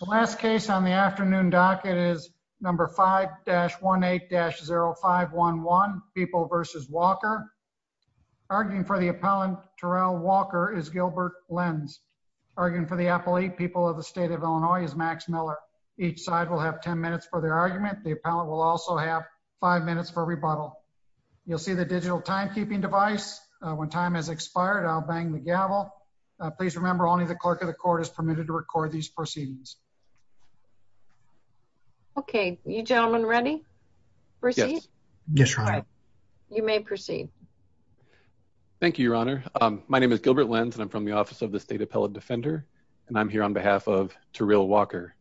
The last case on the afternoon docket is No. 5-18-0511, People v. Walker. Arguing for the appellant, Terrell Walker, is Gilbert Lenz. Arguing for the appellate, People of the State of Illinois, is Max Miller. Each side will have 10 minutes for their argument. The appellant will also have 5 minutes for rebuttal. You'll see the digital timekeeping device. When time has expired, I'll bang the gavel. Please remember, only the clerk of the court is permitted to record these proceedings. Gilbert Lenz Okay. You gentlemen ready? Proceed? Terrell Walker Yes, Your Honor. Gilbert Lenz You may proceed. Gilbert Lenz Thank you, Your Honor. My name is Gilbert Lenz and I'm from the Office of the State Appellate Defender, and I'm here on behalf of Terrell Walker.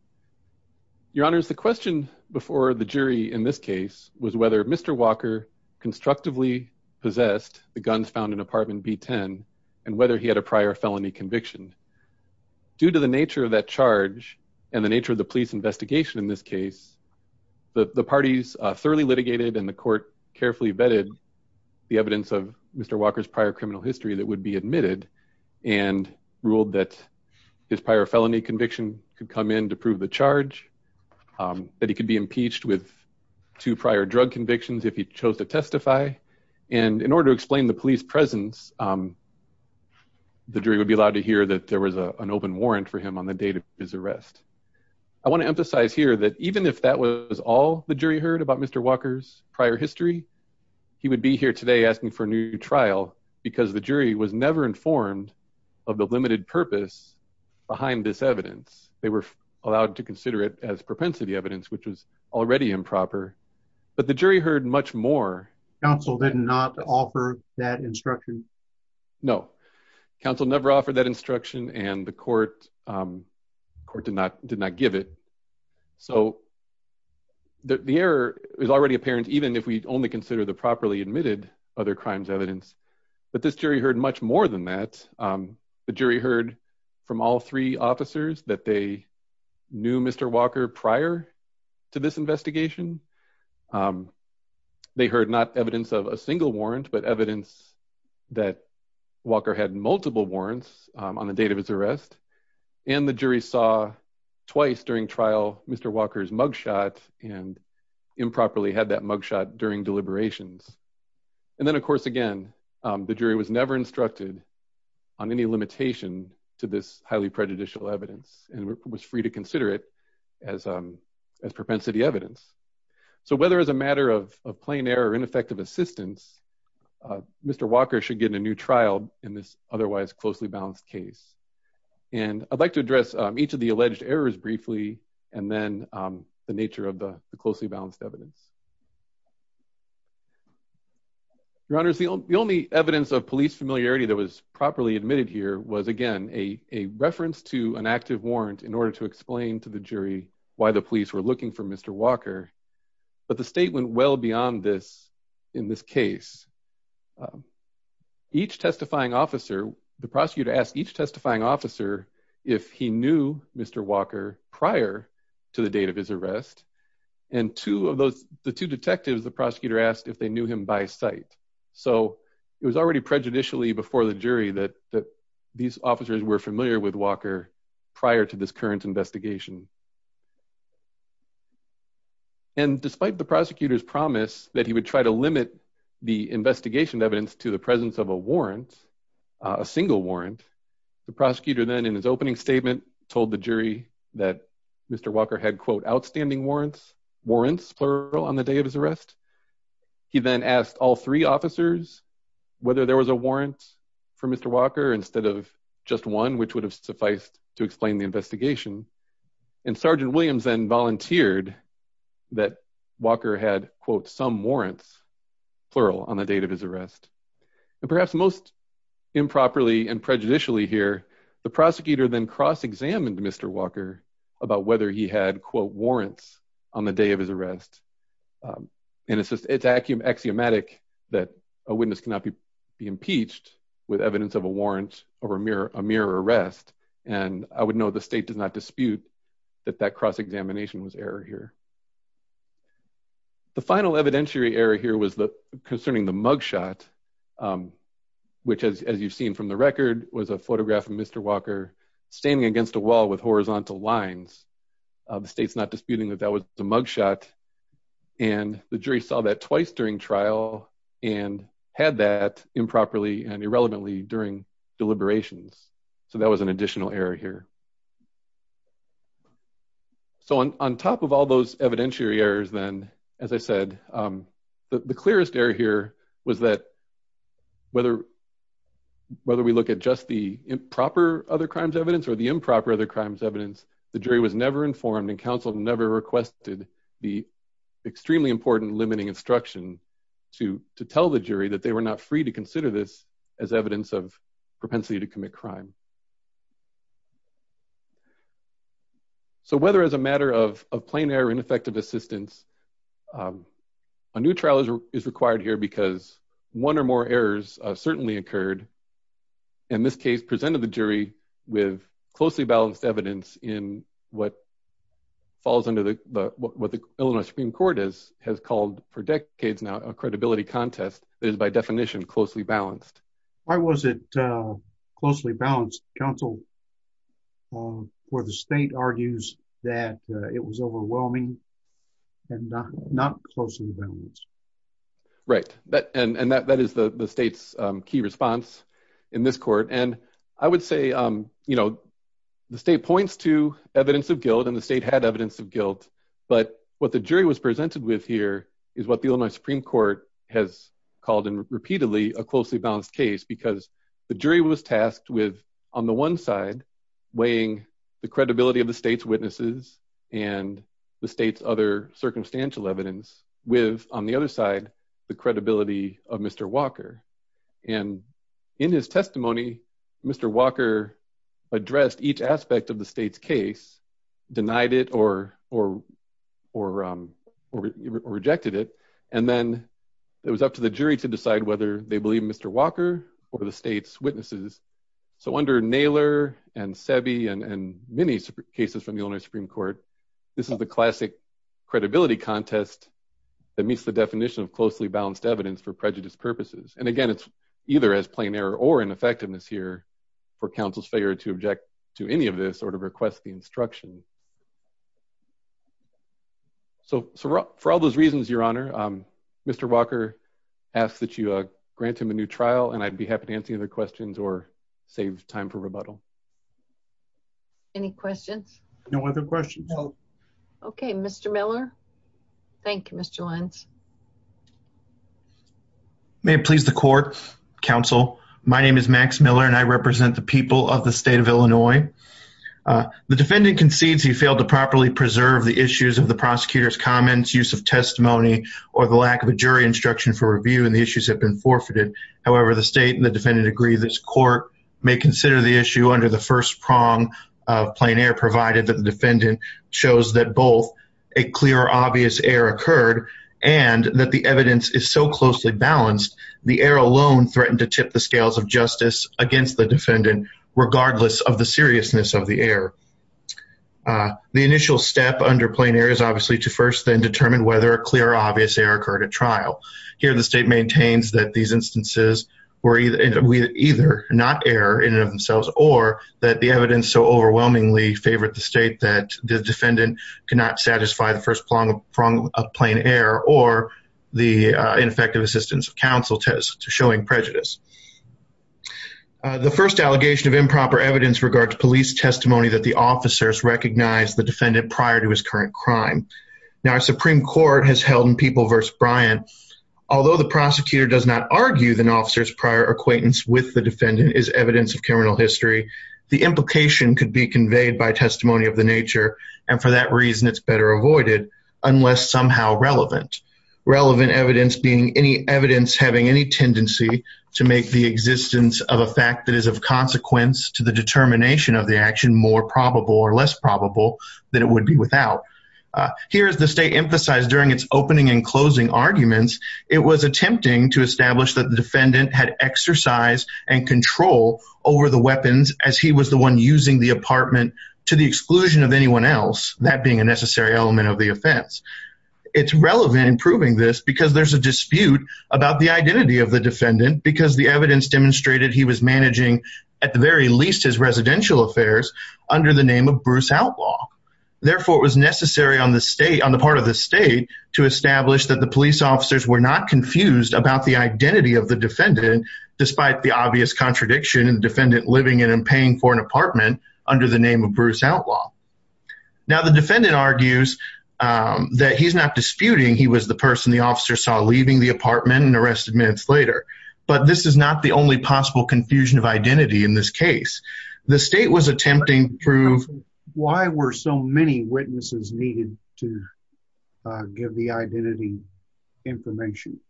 Your Honors, the question before the jury in this case was whether Mr. Walker had a prior felony conviction. Due to the nature of that charge and the nature of the police investigation in this case, the parties thoroughly litigated and the court carefully vetted the evidence of Mr. Walker's prior criminal history that would be admitted and ruled that his prior felony conviction could come in to prove the charge, that he could be impeached with two prior drug convictions if he chose to testify. And in order to explain the police presence, the jury would be allowed to hear that there was an open warrant for him on the date of his arrest. I want to emphasize here that even if that was all the jury heard about Mr. Walker's prior history, he would be here today asking for a new trial because the jury was never informed of the limited purpose behind this evidence. They were allowed to consider it as propensity evidence, which was already improper, but the jury heard much more. Counsel did not offer that instruction? No, counsel never offered that instruction and the court did not give it. So the error is already apparent even if we only consider the properly admitted other crimes evidence, but this jury heard much more than that. The jury heard from all three officers that they prior to this investigation. They heard not evidence of a single warrant, but evidence that Walker had multiple warrants on the date of his arrest. And the jury saw twice during trial Mr. Walker's mugshot and improperly had that mugshot during deliberations. And then of course, again, the jury was never instructed on any limitation to this highly improper evidence, but the jury was never instructed to consider it as propensity evidence. So whether as a matter of plain error or ineffective assistance, Mr. Walker should get a new trial in this otherwise closely balanced case. And I'd like to address each of the alleged errors briefly and then the nature of the closely balanced evidence. Your honors, the only evidence of police familiarity that was properly admitted here was again, a reference to an active warrant in order to explain to the jury why the police were looking for Mr. Walker, but the state went well beyond this in this case. Each testifying officer, the prosecutor asked each testifying officer if he knew Mr. Walker prior to the date of his arrest. And two of those, the two detectives, the prosecutor asked if they prejudicially before the jury that these officers were familiar with Walker prior to this current investigation. And despite the prosecutor's promise that he would try to limit the investigation evidence to the presence of a warrant, a single warrant, the prosecutor then in his opening statement told the jury that Mr. Walker had quote outstanding warrants, plural on the of his arrest. He then asked all three officers whether there was a warrant for Mr. Walker instead of just one, which would have sufficed to explain the investigation. And Sergeant Williams then volunteered that Walker had quote some warrants, plural on the date of his arrest. And perhaps most improperly and prejudicially here, the prosecutor then cross And it's axiomatic that a witness cannot be impeached with evidence of a warrant or a mere arrest. And I would know the state does not dispute that that cross examination was error here. The final evidentiary error here was concerning the mugshot, which as you've seen from the record was a photograph of Mr. Walker standing against a wall with horizontal lines. The state's not disputing that that was the mugshot. And the jury saw that twice during trial and had that improperly and irrelevantly during deliberations. So that was an additional error here. So on top of all those evidentiary errors, then, as I said, the clearest error here was that whether whether we look at just the improper other crimes evidence or the improper other extremely important limiting instruction to to tell the jury that they were not free to consider this as evidence of propensity to commit crime. So whether as a matter of plain air ineffective assistance. A new trial is required here because one or more errors certainly occurred. And this case presented the jury with closely balanced evidence in what falls under the what the Illinois Supreme Court is has called for decades now a credibility contest that is by definition closely balanced. Why was it closely balanced counsel? For the state argues that it was overwhelming and not not closely balanced. Right, that and that that is the state's key response in this court. And I would say, you know, the state points to evidence of guilt and the state had evidence of guilt. But what the jury was presented with here is what the Illinois Supreme Court has called in repeatedly a closely balanced case because the jury was tasked with on the one side weighing the credibility of the state's witnesses and the state's other circumstantial evidence with on the other side, the credibility of Mr. Walker. And in his testimony, Mr. Walker addressed each aspect of the state's case denied it or or or rejected it. And then it was up to the jury to decide whether they believe Mr. Walker or the state's witnesses. So under Naylor and savvy and many cases from the Illinois Supreme Court. This is the classic credibility contest that meets the definition of closely balanced evidence for prejudice purposes. And again, it's either as plain error or an effectiveness here for counsel's failure to object to any of this or to request the instruction. So for all those reasons, Your Honor, Mr. Walker asked that you grant him a new trial and I'd be happy to answer your questions or save time for rebuttal. Any questions? No other questions. Okay, Mr. Miller. Thank you, Mr. Lentz. May it please the court, counsel. My name is Max Miller and I represent the people of the state of Illinois. The defendant concedes he failed to properly preserve the issues of the prosecutor's comments, use of testimony or the lack of a jury instruction for review and the issues have been forfeited. However, the state and the defendant agree this court may consider the issue under the first prong of plain error provided that the defendant shows that both a balanced, the error alone threatened to tip the scales of justice against the defendant, regardless of the seriousness of the error. The initial step under plain error is obviously to first then determine whether a clear or obvious error occurred at trial. Here the state maintains that these instances were either not error in and of themselves or that the evidence so overwhelmingly favored the state that the defendant cannot satisfy the first prong of plain error or the ineffective assistance of counsel test to showing prejudice. The first allegation of improper evidence regards police testimony that the officers recognize the defendant prior to his current crime. Now our Supreme Court has held in People v. Bryant, although the prosecutor does not argue the officer's prior acquaintance with the defendant is evidence of criminal history, the implication could be conveyed by testimony of and for that reason it's better avoided unless somehow relevant. Relevant evidence being any evidence having any tendency to make the existence of a fact that is of consequence to the determination of the action more probable or less probable than it would be without. Here is the state emphasized during its opening and closing arguments, it was attempting to establish that the defendant had exercise and control over the weapons as he was the one using the apartment to the exclusion of anyone else, that being a necessary element of the offense. It's relevant in proving this because there's a dispute about the identity of the defendant because the evidence demonstrated he was managing at the very least his residential affairs under the name of Bruce Outlaw. Therefore it was necessary on the state, on the part of the state to establish that the police officers were not confused about the identity of the defendant despite the obvious contradiction and defendant living in and paying for an apartment under the name of Bruce Outlaw. Now the defendant argues that he's not disputing he was the person the officer saw leaving the apartment and arrested minutes later, but this is not the only possible confusion of identity in this case. The state was attempting to prove... Why were so many witnesses needed to give the identity information?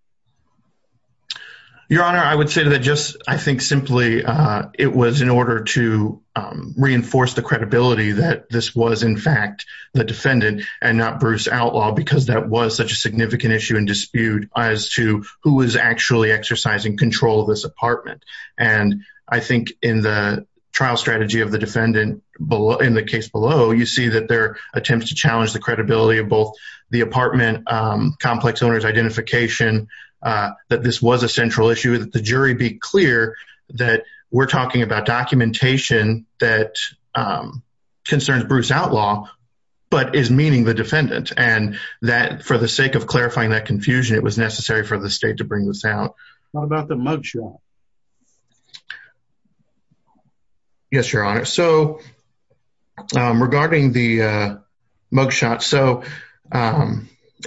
Your Honor, I would say that just I think simply it was in order to reinforce the credibility that this was in fact the defendant and not Bruce Outlaw because that was such a significant issue and dispute as to who was actually exercising control of this apartment. And I think in the trial strategy of the defendant below in the case below you see that their attempts to challenge the credibility of both the apartment complex owner's identification that this was a central issue that the jury be clear that we're talking about documentation that concerns Bruce Outlaw but is meaning the defendant and that for the sake of clarifying that confusion it was necessary for the state to bring this out. What about the mugshot? Yes, Your Honor. So regarding the mugshot, so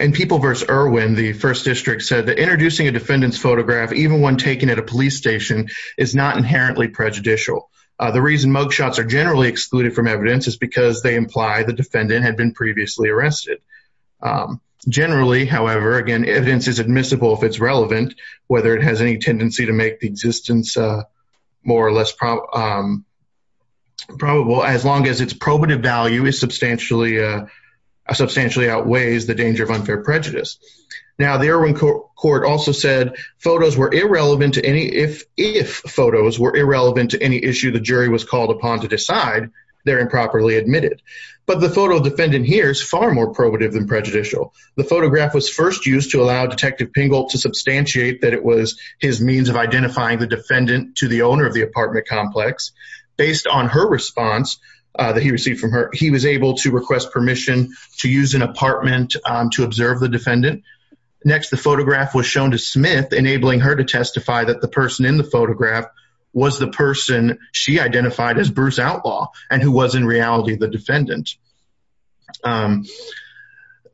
in People v. Irwin, the First District said that introducing a defendant's photograph even when taken at a police station is not inherently prejudicial. The reason mugshots are generally excluded from evidence is because they imply the defendant had been previously arrested. Generally, however, again evidence is admissible if it's existence more or less probable as long as its probative value is substantially outweighs the danger of unfair prejudice. Now the Irwin Court also said photos were irrelevant to any if photos were irrelevant to any issue the jury was called upon to decide, they're improperly admitted. But the photo defendant here is far more probative than prejudicial. The photograph was first used to allow Detective Pingel to substantiate that it was his means of identifying the defendant to the owner of the apartment complex. Based on her response that he received from her, he was able to request permission to use an apartment to observe the defendant. Next, the photograph was shown to Smith enabling her to testify that the person in the photograph was the person she identified as Bruce Outlaw and who was in reality the defendant.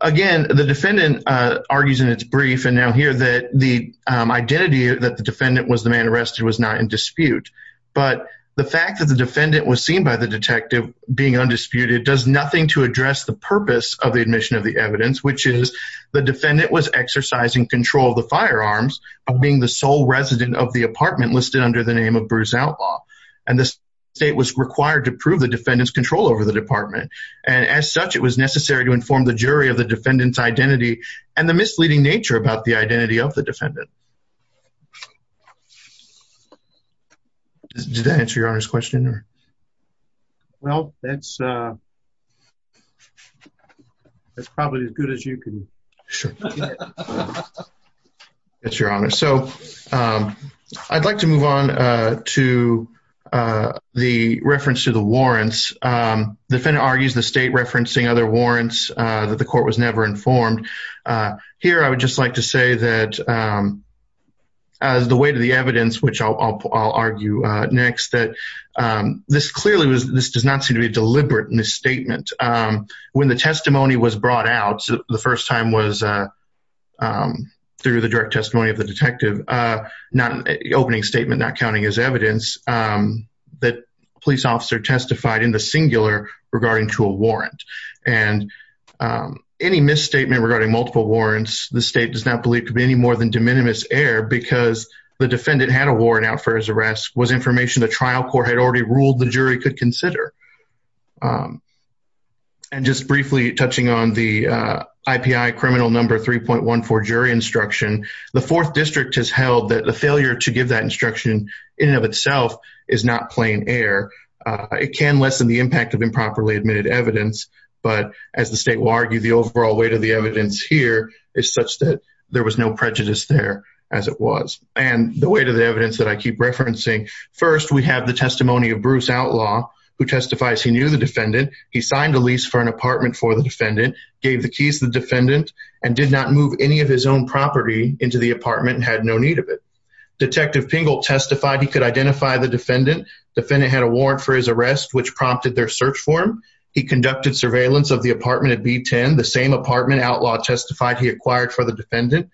Again, the defendant argues in its brief and now here that the identity that the defendant was the man arrested was not in dispute. But the fact that the defendant was seen by the detective being undisputed does nothing to address the purpose of the admission of the evidence, which is the defendant was exercising control of the firearms of being the sole resident of the apartment listed under the name of Bruce Outlaw. And the state was required to prove the defendant's identity to the department. And as such, it was necessary to inform the jury of the defendant's identity and the misleading nature about the identity of the defendant. Does that answer your honor's question? Well, that's probably as good as you can. Sure. It's your honor. So I'd like to move on to the reference to the warrants. The defendant argues the state referencing other warrants that the court was never informed. Here, I would just like to say that as the way to the evidence, which I'll argue next, that this clearly was this does not seem to be deliberate in this statement. When the testimony was brought out, the first time was through the direct testimony of the detective, not an opening statement, not counting as evidence that police officer testified in the singular regarding to a warrant. And any misstatement regarding multiple warrants, the state does not believe to be any more than de minimis error because the defendant had a warrant out for his arrest was information the trial court had already ruled the jury could consider. And just briefly touching on the IPI criminal number 3.14 jury instruction, the fourth district has held that the failure to give that instruction in and of itself is not plain air. It can lessen the impact of improperly admitted evidence. But as the state will argue, the overall weight of the evidence here is such that there was no prejudice there as it was. And the way to the evidence that I keep referencing, first, we have the testimony of Bruce Outlaw, who testifies he knew the defendant, he signed a lease for an apartment for the defendant, gave the keys to the defendant, and did not move any of his own property into the apartment and had no need of it. Detective Pingel testified he could identify the defendant. The defendant had a warrant for his arrest, which prompted their search form. He conducted surveillance of the apartment at B10, the same apartment Outlaw testified he acquired for the defendant.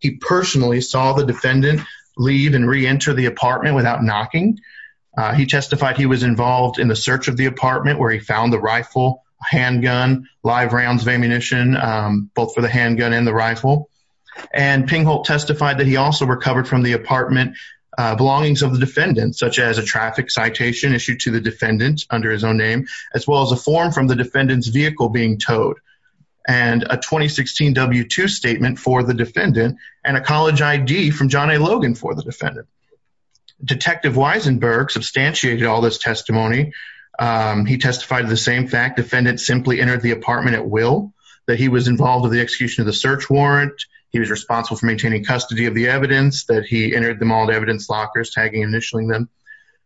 He personally saw the defendant leave and reenter the apartment without knocking. He testified he was involved in the search of the rifle, handgun, live rounds of ammunition, both for the handgun and the rifle. And Pingel testified that he also recovered from the apartment belongings of the defendant, such as a traffic citation issued to the defendant under his own name, as well as a form from the defendant's vehicle being towed, and a 2016 W-2 statement for the defendant, and a college ID from John A. Testimony. He testified to the same fact the defendant simply entered the apartment at will, that he was involved in the execution of the search warrant, he was responsible for maintaining custody of the evidence, that he entered the mauled evidence lockers, tagging and initialing them.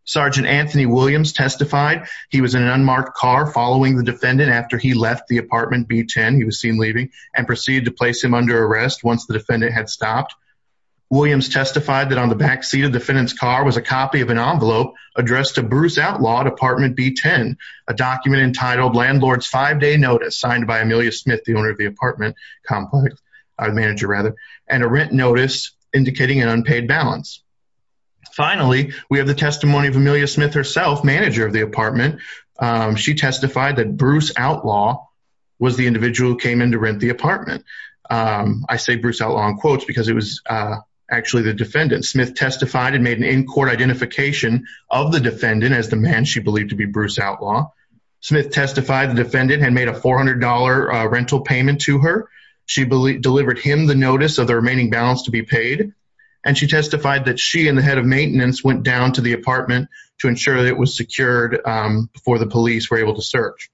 Sergeant Anthony Williams testified he was in an unmarked car following the defendant after he left the apartment B10, he was seen leaving, and proceeded to place him under arrest once the defendant had stopped. Williams testified that on the back seat of the defendant's car was a copy of an envelope addressed to Bruce Outlaw at apartment B10, a document entitled landlord's five-day notice, signed by Amelia Smith, the owner of the apartment complex, or manager rather, and a rent notice indicating an unpaid balance. Finally, we have the testimony of Amelia Smith herself, manager of the apartment. She testified that Bruce Outlaw was the individual who came in to rent the apartment. I say Bruce Outlaw in quotes because it was actually the defendant. Smith testified and made an in-court identification of the defendant as the man she believed to be Bruce Outlaw. Smith testified the defendant had made a $400 rental payment to her, she delivered him the notice of the remaining balance to be paid, and she testified that she and the head of maintenance went down to the apartment to ensure that it was secured before the police were able to search.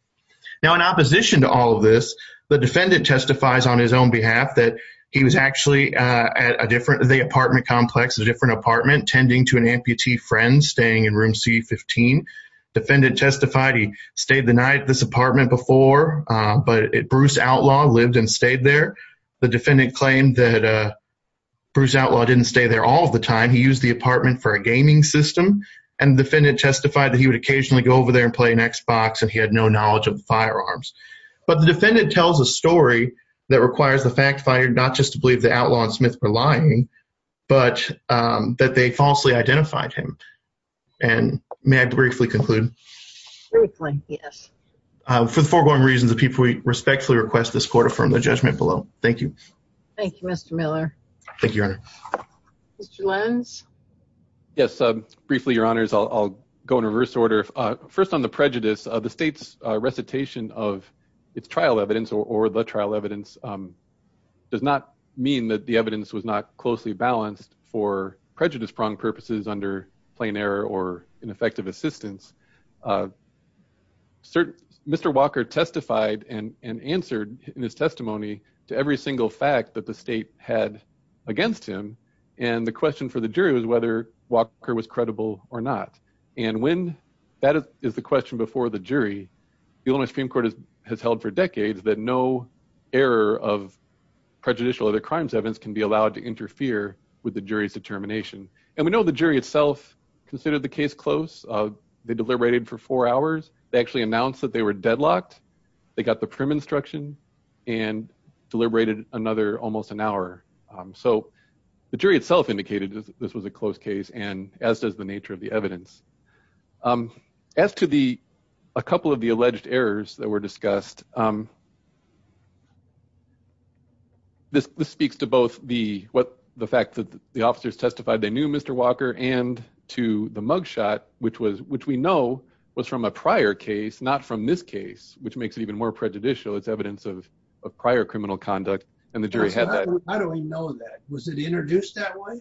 Now in opposition to all of this, the defendant testifies on his own behalf that he was actually at a different, the apartment complex, a different apartment, tending to an amputee friend staying in room C15. Defendant testified he stayed the night at this apartment before, but Bruce Outlaw lived and stayed there. The defendant claimed that Bruce Outlaw didn't stay there all the time, he used the apartment for a gaming system, and the defendant testified that he would occasionally go over there and play an Xbox and he had no knowledge of the to believe that Outlaw and Smith were lying, but that they falsely identified him. And may I briefly conclude? Briefly, yes. For the foregoing reasons of people, we respectfully request this court affirm the judgment below. Thank you. Thank you, Mr. Miller. Thank you, Your Honor. Mr. Lenz? Yes, briefly, Your Honors, I'll go in reverse order. First on the prejudice, the state's recitation of its trial evidence or the trial evidence does not mean that the evidence was not closely balanced for prejudice-pronged purposes under plain error or ineffective assistance. Mr. Walker testified and answered in his testimony to every single fact that the state had against him, and the question for the jury was whether Walker was credible or not. And when that is the question before the jury, the Illinois Supreme Court has held for decades that no error of prejudicial other crimes evidence can be allowed to interfere with the jury's determination. And we know the jury itself considered the case close. They deliberated for four hours. They actually announced that they were deadlocked. They got the prim instruction and deliberated another almost an hour. So the jury itself indicated that this was a close case and as does the nature of the evidence. As to a couple of the alleged errors that were discussed, this speaks to both the fact that the officers testified they knew Mr. Walker and to the mugshot, which we know was from a prior case, not from this case, which makes it even more prejudicial. It's evidence of prior criminal conduct, and the jury had that. How do we know that? Was it introduced that way?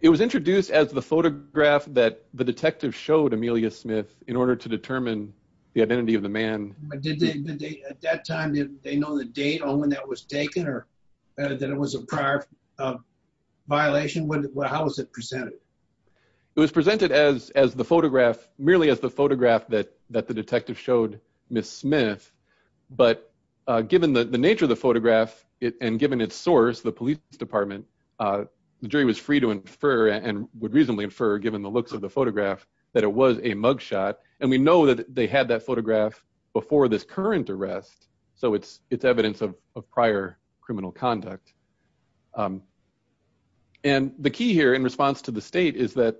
It was introduced as the photograph that the detective showed Amelia Smith in order to determine the identity of the man. Did they, at that time, did they know the date on when that was taken or that it was a prior violation? How was it presented? It was presented as the photograph, merely as the photograph that the detective showed Miss Smith, but given the nature of photograph and given its source, the police department, the jury was free to infer and would reasonably infer, given the looks of the photograph, that it was a mugshot. And we know that they had that photograph before this current arrest. So it's evidence of prior criminal conduct. And the key here in response to the state is that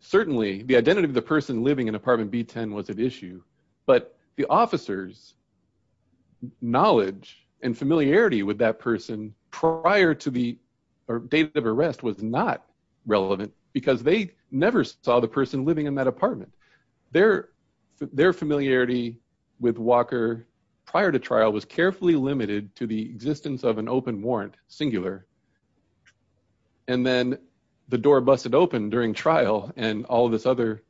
certainly the identity of the person living in apartment B10 was at issue, but the officers knowledge and familiarity with that person prior to the date of arrest was not relevant because they never saw the person living in that apartment. Their familiarity with Walker prior to trial was carefully limited to the existence of an open warrant, singular, and then the door busted open during trial and all this other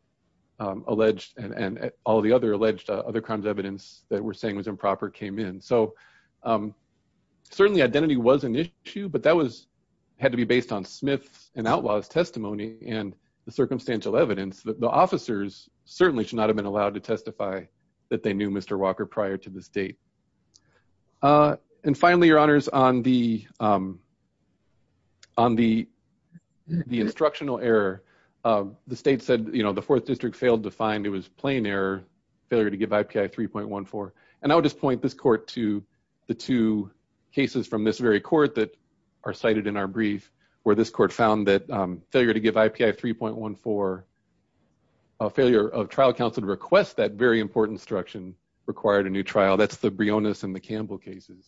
alleged and all the other alleged other crimes evidence that we're saying was improper came in. So certainly identity was an issue, but that had to be based on Smith's and outlaw's testimony and the circumstantial evidence that the officers certainly should not have been allowed to testify that they knew Mr. Walker prior to this date. And finally, your honors, on the instructional error, the state said, you know, failure to give IPI 3.14. And I would just point this court to the two cases from this very court that are cited in our brief where this court found that failure to give IPI 3.14, a failure of trial counsel to request that very important instruction required a new trial. That's the Briones and the Campbell cases.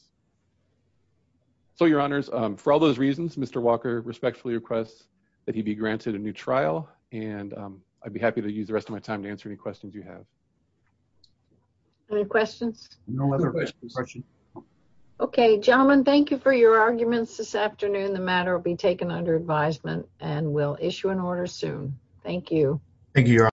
So your honors, for all those reasons, Mr. Walker respectfully requests that he be granted a new trial. And I'd be happy to use the rest of my time to answer any questions you have. Any questions? No other questions. Okay, gentlemen, thank you for your arguments this afternoon. The matter will be taken under advisement and we'll issue an order soon. Thank you. Thank you.